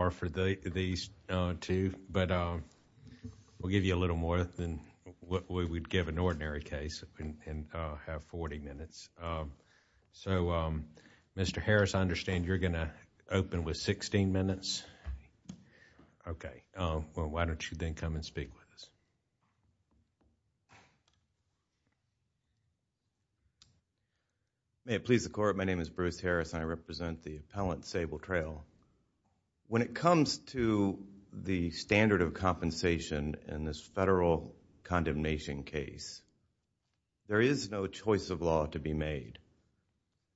are for these two, but we'll give you a little more than what we would give an ordinary case and have 40 minutes. So Mr. Harris, I understand you're going to open with 16 minutes. Okay. Well, why don't you then come and speak with us? May it please the Court, my name is Bruce Harris and I represent the appellant Sable Trail. When it comes to the standard of compensation in this federal condemnation case, there is no choice of law to be made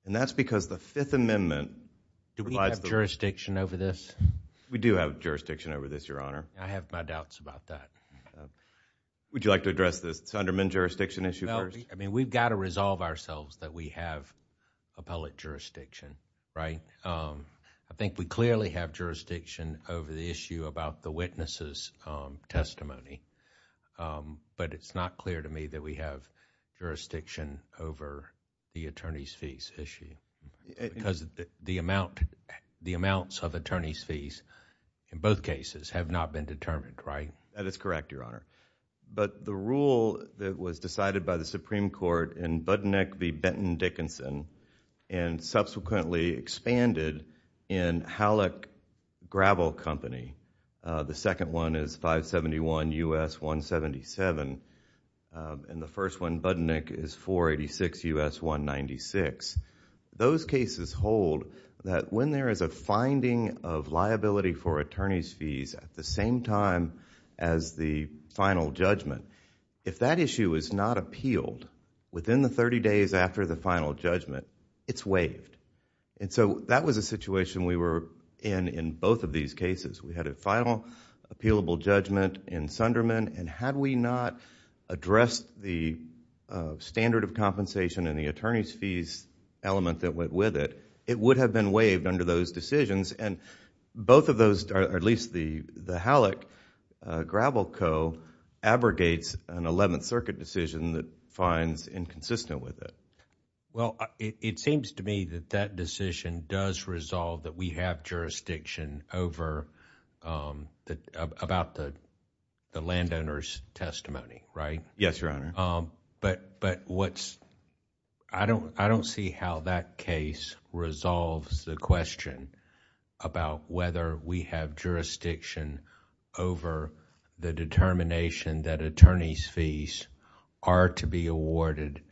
and that's because the Fifth Amendment... Do we have jurisdiction over this? We do have jurisdiction over this, Your Honor. I have my doubts about that. Would you like to address this Sunderman jurisdiction issue first? No, I mean, we've got to resolve ourselves that we have appellate jurisdiction, right? I think we clearly have jurisdiction over the issue about the witness' testimony, but it's not clear to me that we have jurisdiction over the attorney's fees issue because the amounts of attorney's fees in both cases have not been determined, right? That is correct, Your Honor. But the rule that was decided by the Supreme Court in Budnick v. Benton Dickinson and subsequently expanded in Halleck Gravel Company, the second one is 571 U.S. 177 and the first one, Budnick, is 486 U.S. 196. Those cases hold that when there is a finding of liability for attorney's fees at the same time as the final judgment, if that issue is not appealed within the thirty days after the final judgment, it's waived. That was a situation we were in in both of these cases. We had a final appealable judgment in Sunderman and had we not addressed the standard of compensation and the attorney's fees element that went with it, it would have been waived under those decisions and both of those, or at least the Halleck Gravel Co., abrogates an Eleventh Amendment and is consistent with it. Well, it seems to me that that decision does resolve that we have jurisdiction over... about the landowner's testimony, right? Yes, Your Honor. But what's... I don't see how that case resolves the question about whether we have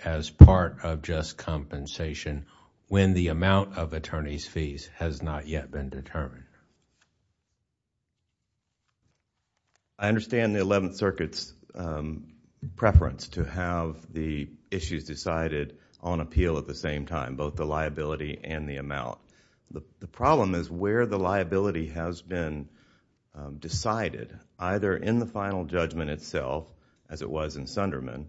as part of just compensation when the amount of attorney's fees has not yet been determined. I understand the Eleventh Circuit's preference to have the issues decided on appeal at the same time, both the liability and the amount. The problem is where the liability has been decided, either in the final judgment itself, as it was in Sunderman,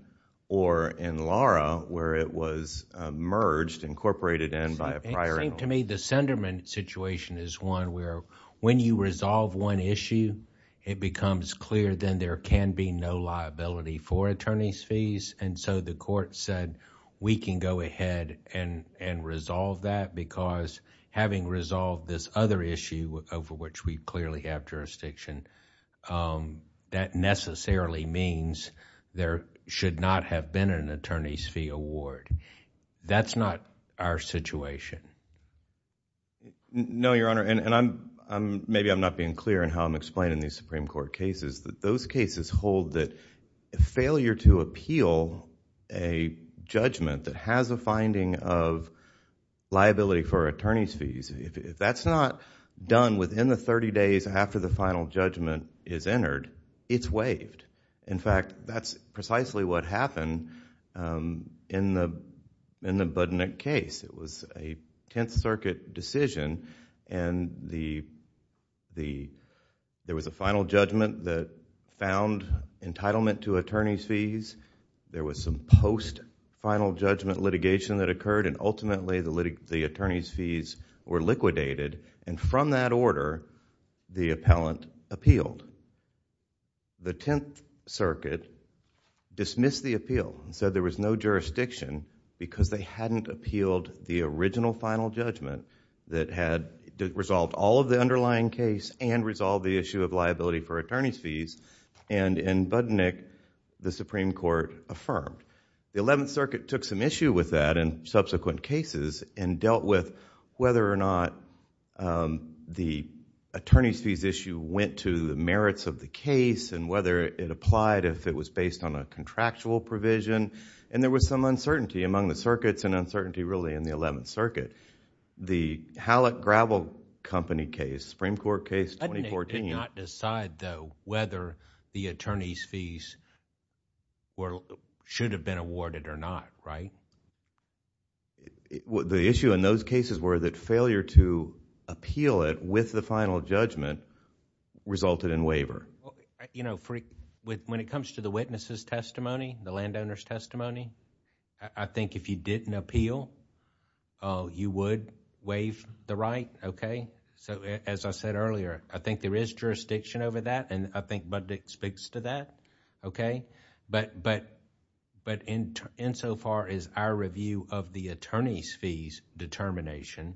or in Lara, where it was merged, incorporated in by a prior... It seems to me the Sunderman situation is one where when you resolve one issue, it becomes clear then there can be no liability for attorney's fees. The court said, we can go ahead and resolve that because having resolved this other issue over which we clearly have jurisdiction, that necessarily means there should not have been an attorney's fee award. That's not our situation. No, Your Honor. Maybe I'm not being clear in how I'm explaining these Supreme Court cases, but those cases hold that failure to appeal a judgment that has a finding of liability for attorney's fees. If that's not done within the thirty days after the final judgment is entered, it's waived. In fact, that's precisely what happened in the Budnick case. It was a Tenth Circuit decision, and there was a final judgment that found entitlement to attorney's fees. There was some post-final judgment litigation that occurred, and ultimately the attorney's fees were liquidated, and from that order, the appellant appealed. The Tenth Circuit dismissed the appeal and said there was no jurisdiction because they hadn't appealed the original final judgment that had resolved all of the underlying case and resolved the issue of liability for attorney's fees, and in Budnick, the Supreme Court affirmed. The Eleventh Circuit took some issue with that in subsequent cases and dealt with whether or not the attorney's fees issue went to the merits of the case and whether it applied if it was based on a contractual provision, and there was some uncertainty among the circuits and uncertainty really in the Eleventh Circuit. The Hallett Gravel Company case, Supreme Court case 2014... The issue in those cases were that failure to appeal it with the final judgment resulted in waiver. When it comes to the witness's testimony, the landowner's testimony, I think if you didn't appeal, you would waive the right. As I said earlier, I think there is jurisdiction over that, and I think Budnick speaks to that, but insofar as our review of the attorney's fees determination,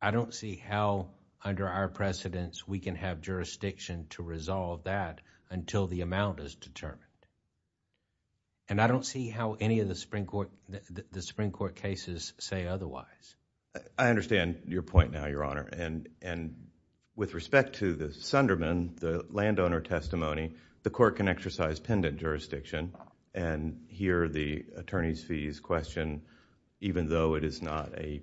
I don't see how under our precedence we can have jurisdiction to resolve that until the amount is determined, and I don't see how any of the Supreme Court cases say otherwise. I understand your point now, Your Honor. With respect to the Sunderman, the landowner testimony, the court can exercise pendant jurisdiction and hear the attorney's fees question even though it is not a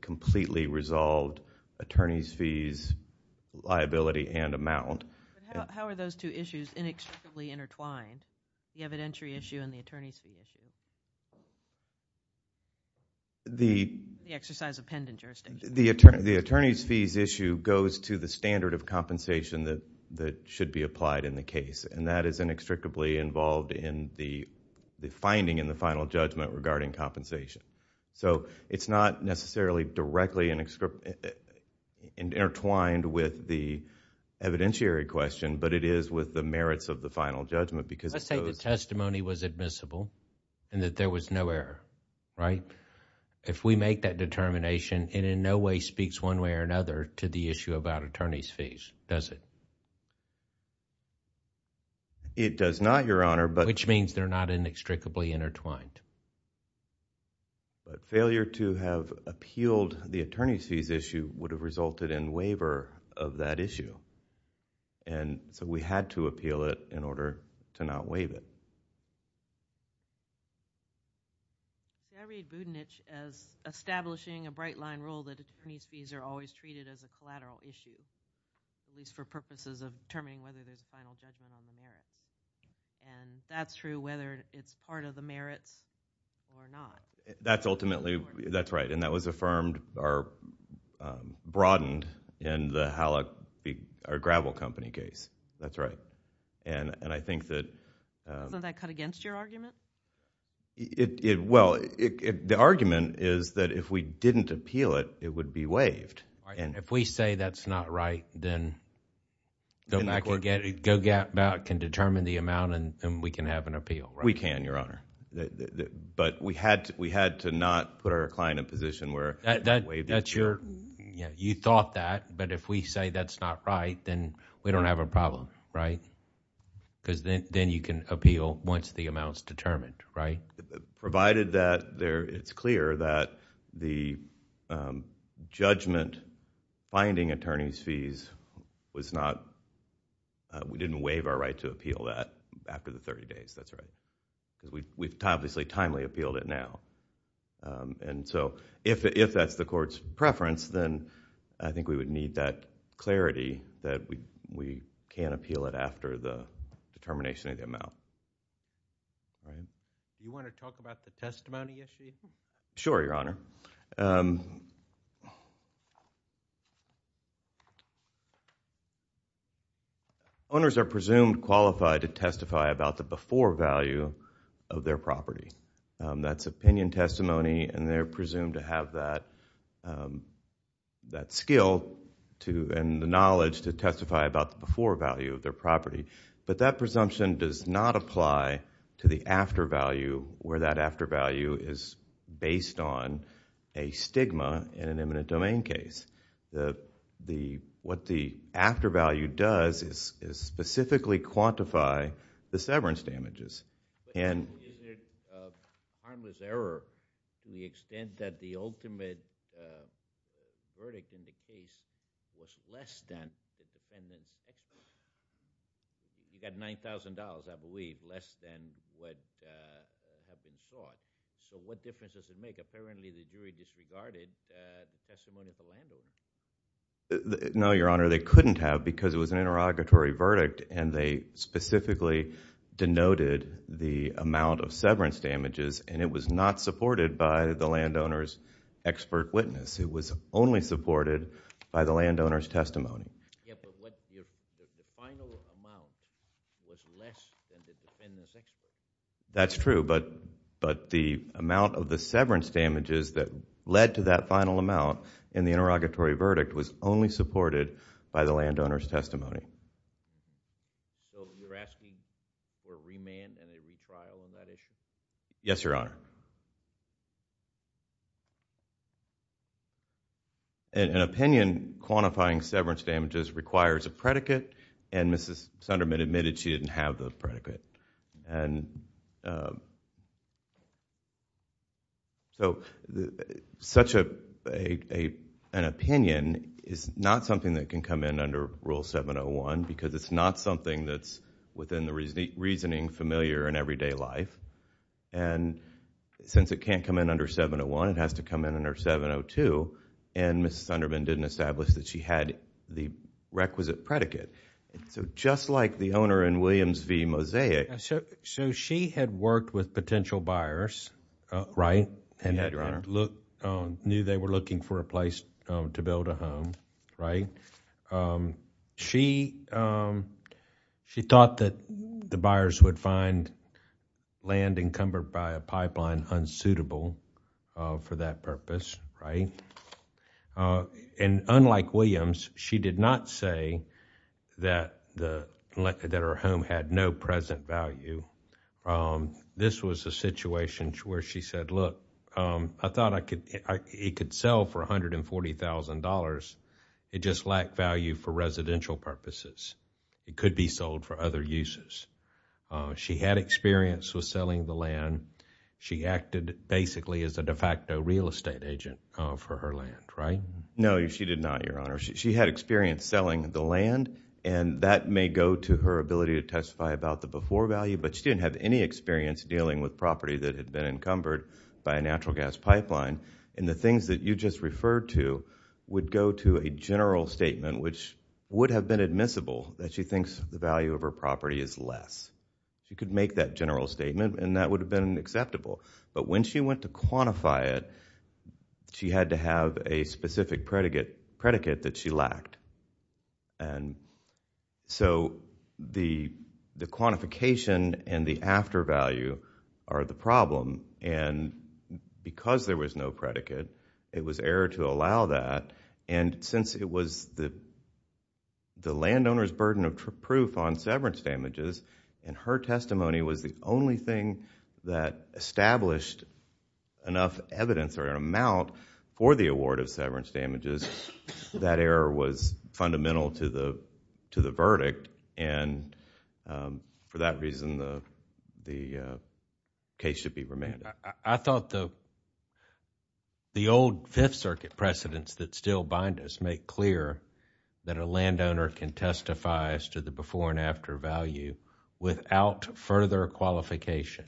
completely resolved attorney's fees liability and amount. How are those two issues inextricably intertwined, the evidentiary issue and the attorney's fees issue? The exercise of pendant jurisdiction. The attorney's fees issue goes to the standard of compensation that should be applied in the case, and that is inextricably involved in the finding in the final judgment regarding compensation. It's not necessarily directly intertwined with the evidentiary question, but it is with the merits of the final judgment because... Let's say the testimony was admissible and that there was no error, right? No way speaks one way or another to the issue about attorney's fees, does it? It does not, Your Honor, but... Which means they're not inextricably intertwined. Failure to have appealed the attorney's fees issue would have resulted in waiver of that issue, and so we had to appeal it in order to not waive it. Do I read Boudinich as establishing a bright-line rule that attorney's fees are always treated as a collateral issue, at least for purposes of determining whether there's a final judgment on the merits, and if that's true, whether it's part of the merits or not? That's ultimately... That's right, and that was affirmed or broadened in the Halleck... or Gravel Company case, that's right. I think that... Wasn't that cut against your argument? Well, the argument is that if we didn't appeal it, it would be waived. If we say that's not right, then GoGap can determine the amount and we can have an appeal, right? We can, Your Honor, but we had to not put our client in a position where... You thought that, but if we say that's not right, then we don't have a problem, right? Because then you can appeal once the amount's determined, right? Provided that it's clear that the judgment finding attorney's fees was not... we didn't waive our right to appeal that after the thirty days, that's right. We've obviously timely appealed it now. If that's the court's preference, then I think we would need that clarity that we can't appeal it after the determination of the amount. Do you want to talk about the testimony issue? Sure, Your Honor. Owners are presumed qualified to testify about the before value of their property. That's opinion testimony and they're presumed to have that skill and the knowledge to testify about the before value of their property, but that presumption does not apply to the after value where that after value is based on a stigma in an eminent domain case. What the after value does is specifically quantify the severance damages and... No, Your Honor, they couldn't have because it was an interrogatory verdict and they specifically denoted the amount of severance damages and it was not supported by the landowner's expert witness. It was only supported by the landowner's testimony. Yeah, but the final amount was less than the defendant's expert witness. That's true, but the amount of the severance damages that led to that final amount in the interrogatory verdict was only supported by the landowner's testimony. So you're asking for a remand and a retrial on that issue? Yes, Your Honor. An opinion quantifying severance damages requires a predicate and Mrs. Sunderman admitted she didn't have the predicate. Such an opinion is not something that can come in under Rule 701 because it's not something that's within the reasoning familiar in everyday life. Since it can't come in under 701, it has to come in under 702 and Mrs. Sunderman didn't establish that she had the requisite predicate. Just like the owner in Williams v. Mosaic... She had worked with potential buyers and knew they were looking for a place to build a home. Right? She thought that the buyers would find land encumbered by a pipeline unsuitable for that purpose, right? Unlike Williams, she did not say that her home had no present value. This was a situation where she said, look, I thought it could sell for $140,000. It just lacked value for residential purposes. It could be sold for other uses. She had experience with selling the land. She acted basically as a de facto real estate agent for her land, right? No, she did not, Your Honor. She had experience selling the land and that may go to her ability to testify about the core value, but she didn't have any experience dealing with property that had been encumbered by a natural gas pipeline. The things that you just referred to would go to a general statement, which would have been admissible, that she thinks the value of her property is less. She could make that general statement and that would have been acceptable, but when she went to quantify it, she had to have a specific predicate that she lacked. The quantification and the after value are the problem and because there was no predicate, it was error to allow that and since it was the landowner's burden of proof on severance damages and her testimony was the only thing that established enough evidence or an amount for the award of severance damages, that error was fundamental to the verdict and for that reason the case should be remanded. I thought the old Fifth Circuit precedents that still bind us make clear that a landowner can testify as to the before and after value without further qualification.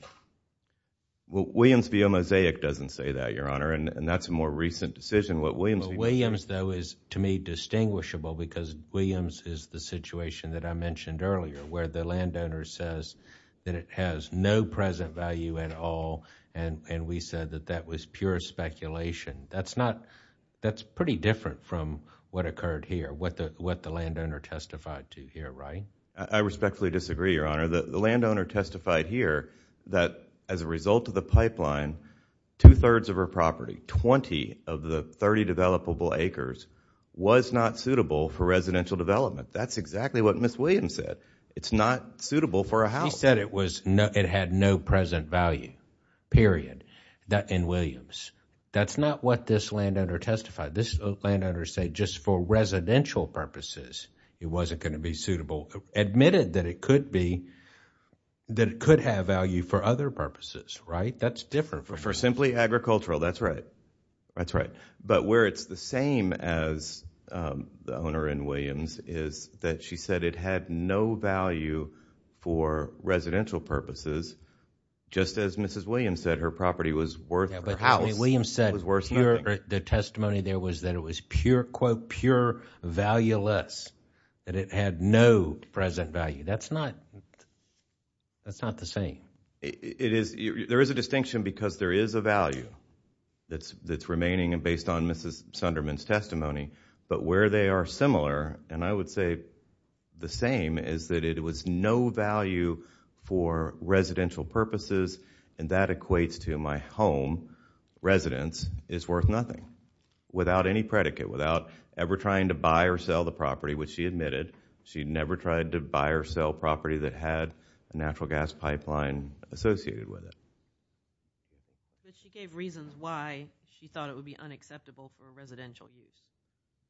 Williams v. Omozaic doesn't say that, Your Honor, and that's a more recent decision. Williams, though, is to me distinguishable because Williams is the situation that I mentioned earlier where the landowner says that it has no present value at all and we said that that was pure speculation. That's pretty different from what occurred here, what the landowner testified to here, right? I respectfully disagree, Your Honor. The landowner testified here that as a result of the pipeline, two-thirds of her property, 20 of the 30 developable acres, was not suitable for residential development. That's exactly what Ms. Williams said. It's not suitable for a house. She said it had no present value, period, in Williams. That's not what this landowner testified. This landowner said just for residential purposes, it wasn't going to be suitable, admitted that it could be, that it could have value for other purposes, right? That's different. For simply agricultural. That's right. That's right. But where it's the same as the owner in Williams is that she said it had no value for residential purposes just as Mrs. Williams said her property was worth her house. Williams said the testimony there was that it was pure, quote, pure valueless, that it had no present value. That's not the same. There is a distinction because there is a value that's remaining based on Mrs. Sunderman's testimony, but where they are similar, and I would say the same, is that it was no value for residential purposes, and that equates to my home, residence, is worth nothing. Without any predicate, without ever trying to buy or sell the property, which she admitted, she never tried to buy or sell property that had a natural gas pipeline associated with it. But she gave reasons why she thought it would be unacceptable for residential use.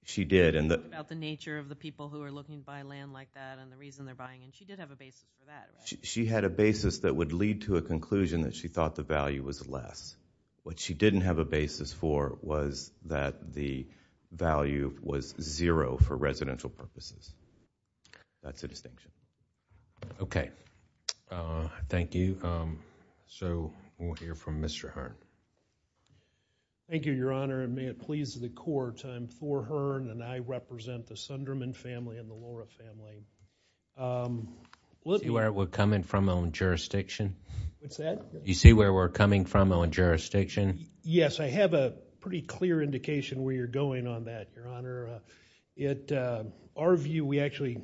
She did. About the nature of the people who are looking to buy land like that and the reason they're buying it. She did have a basis for that. She had a basis that would lead to a conclusion that she thought the value was less. What she didn't have a basis for was that the value was zero for residential purposes. That's a distinction. Okay. Thank you. So, we'll hear from Mr. Hearn. Thank you, Your Honor, and may it please the Court, I'm Thor Hearn and I represent the Sunderman family and the Lora family. Do you see where we're coming from on jurisdiction? What's that? Do you see where we're coming from on jurisdiction? Yes, I have a pretty clear indication where you're going on that, Your Honor. Our view, we actually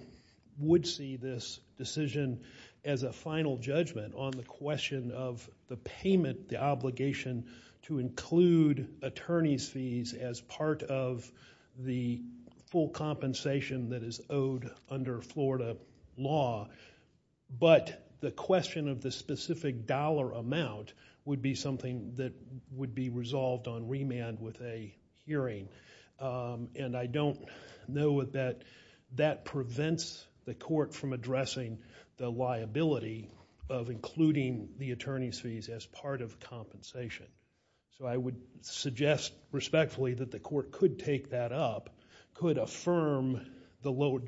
would see this decision as a final judgment on the question of the payment, the obligation to include attorney's fees as part of the full compensation that is owed under Florida law. But, the question of the specific dollar amount would be something that would be resolved on remand with a hearing. I don't know that that prevents the court from addressing the liability of including the attorney's fees as part of compensation. I would suggest respectfully that the court could take that up, could affirm the lower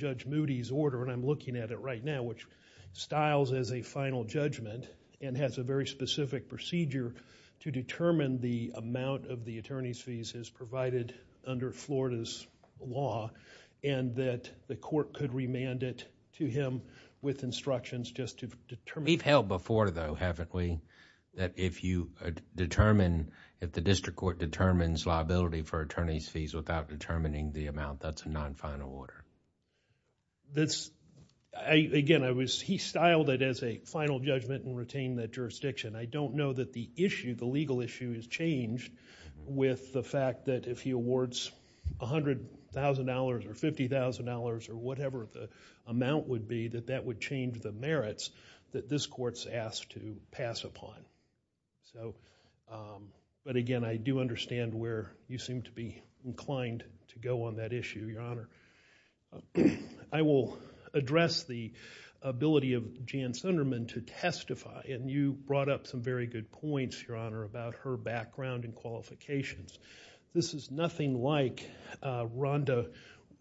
styles as a final judgment and has a very specific procedure to determine the amount of the attorney's fees as provided under Florida's law and that the court could remand it to him with instructions just to determine... We've held before though, haven't we, that if you determine, if the district court determines liability for attorney's fees without determining the amount, that's a non-final order? Again, he styled it as a final judgment and retained that jurisdiction. I don't know that the issue, the legal issue, has changed with the fact that if he awards $100,000 or $50,000 or whatever the amount would be, that that would change the merits that this court's asked to pass upon. Again, I do understand where you seem to be inclined to go on that issue, Your Honor. I will address the ability of Jan Sunderman to testify. You brought up some very good points, Your Honor, about her background and qualifications. This is nothing like Rhonda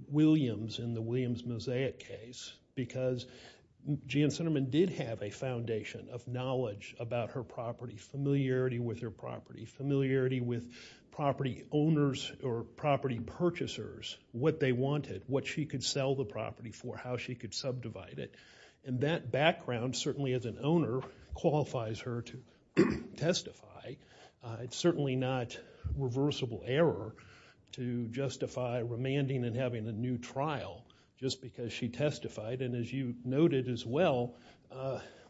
Williams in the Williams-Mosaic case because Jan Sunderman did have a foundation of knowledge about her property, familiarity with her property, familiarity with property owners or property purchasers, what they wanted, what she could sell the property for, how she could subdivide it. That background, certainly as an owner, qualifies her to testify. It's certainly not reversible error to justify remanding and having a new trial just because she testified. As you noted as well,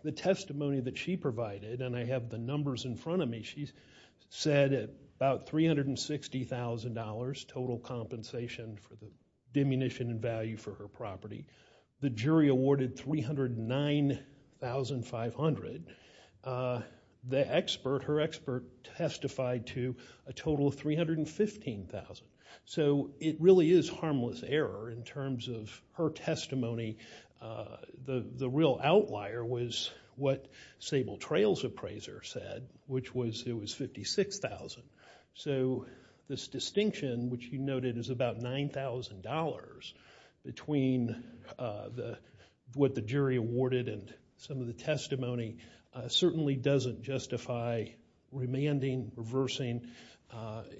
the testimony that she provided, and I have the numbers in front of me, she said about $360,000 total compensation for the diminution in value for her property. The jury awarded $309,500. Her expert testified to a total of $315,000. It really is harmless error in terms of her testimony. The real outlier was what Sable Trails' appraiser said, which was it was $56,000. This distinction, which you noted is about $9,000, between what the jury awarded and some of the testimony, certainly doesn't justify remanding, reversing,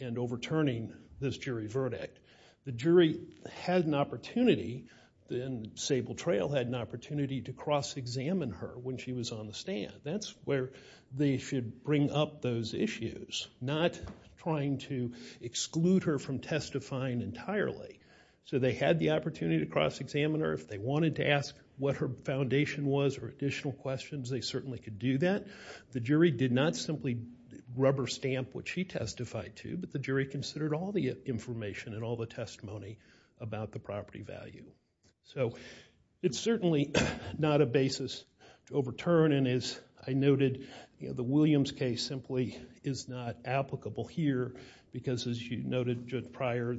and overturning this jury verdict. The jury had an opportunity, and Sable Trail had an opportunity, to cross-examine her when she was on the stand. That's where they should bring up those issues, not trying to exclude her from testifying entirely. They had the opportunity to cross-examine her if they wanted to ask what her foundation was or additional questions, they certainly could do that. The jury did not simply rubber-stamp what she testified to, but the jury considered all the information and all the testimony about the property value. It's certainly not a basis to overturn, and as I noted, the Williams case simply is not applicable here because, as you noted, Judge Pryor,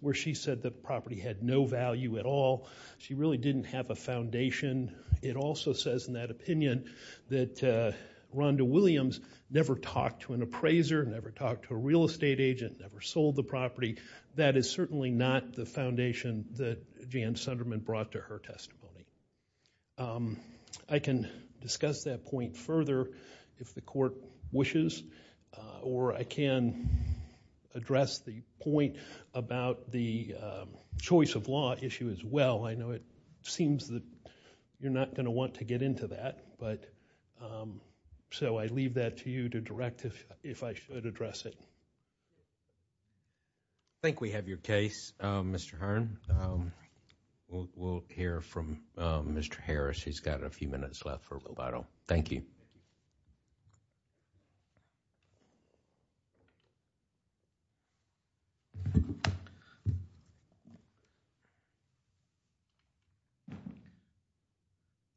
where she said the property had no foundation, it also says in that opinion that Rhonda Williams never talked to an appraiser, never talked to a real estate agent, never sold the property. That is certainly not the foundation that Jan Sunderman brought to her testimony. I can discuss that point further if the court wishes, or I can address the point about the choice of law issue as well. I know it seems that you're not going to want to get into that, so I leave that to you to direct if I should address it. I think we have your case, Mr. Hearn. We'll hear from Mr. Harris. He's got a few minutes left for rebuttal. Thank you.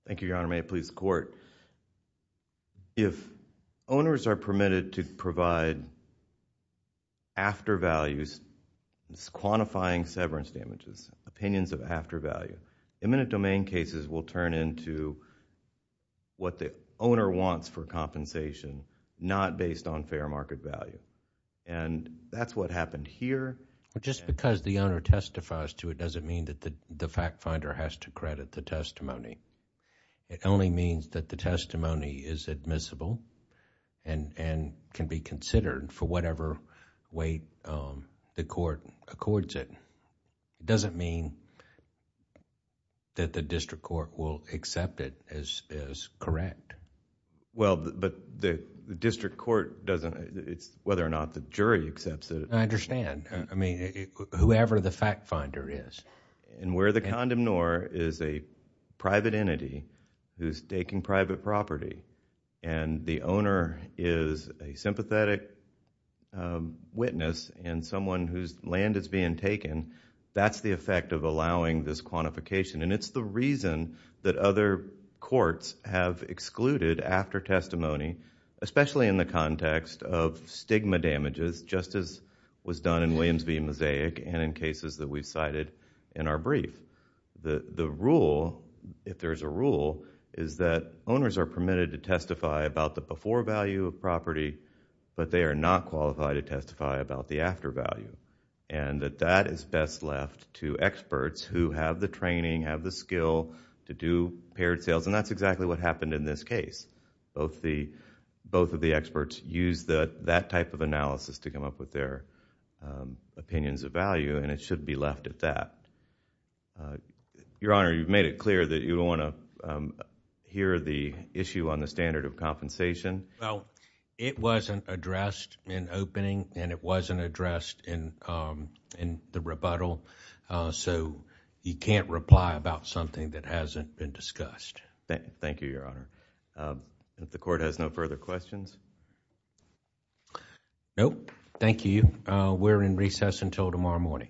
Thank you, Your Honor, and may it please the court. If owners are permitted to provide after values, quantifying severance damages, opinions of owner wants for compensation, not based on fair market value, and that's what happened here. Just because the owner testifies to it doesn't mean that the fact finder has to credit the testimony. It only means that the testimony is admissible and can be considered for whatever way the court accords it. It doesn't mean that the district court will accept it as correct. Well, but the district court doesn't... it's whether or not the jury accepts it. I understand. I mean, whoever the fact finder is. Where the condemnor is a private entity who's taking private property, and the That's the effect of allowing this quantification, and it's the reason that other courts have excluded after testimony, especially in the context of stigma damages, just as was done in Williams v. Mosaic and in cases that we've cited in our brief. The rule, if there's a rule, is that owners are permitted to testify about the before value of property, but they are not qualified to testify about the after value, and that that is best left to experts who have the training, have the skill to do paired sales, and that's exactly what happened in this case. Both of the experts used that type of analysis to come up with their opinions of value, and it should be left at that. Your Honor, you've made it clear that you don't want to hear the issue on the standard of compensation. Well, it wasn't addressed in opening, and it wasn't addressed in the rebuttal, so you can't reply about something that hasn't been discussed. Thank you, Your Honor. If the court has no further questions? Nope. Thank you. We're in recess until tomorrow morning. Thank you.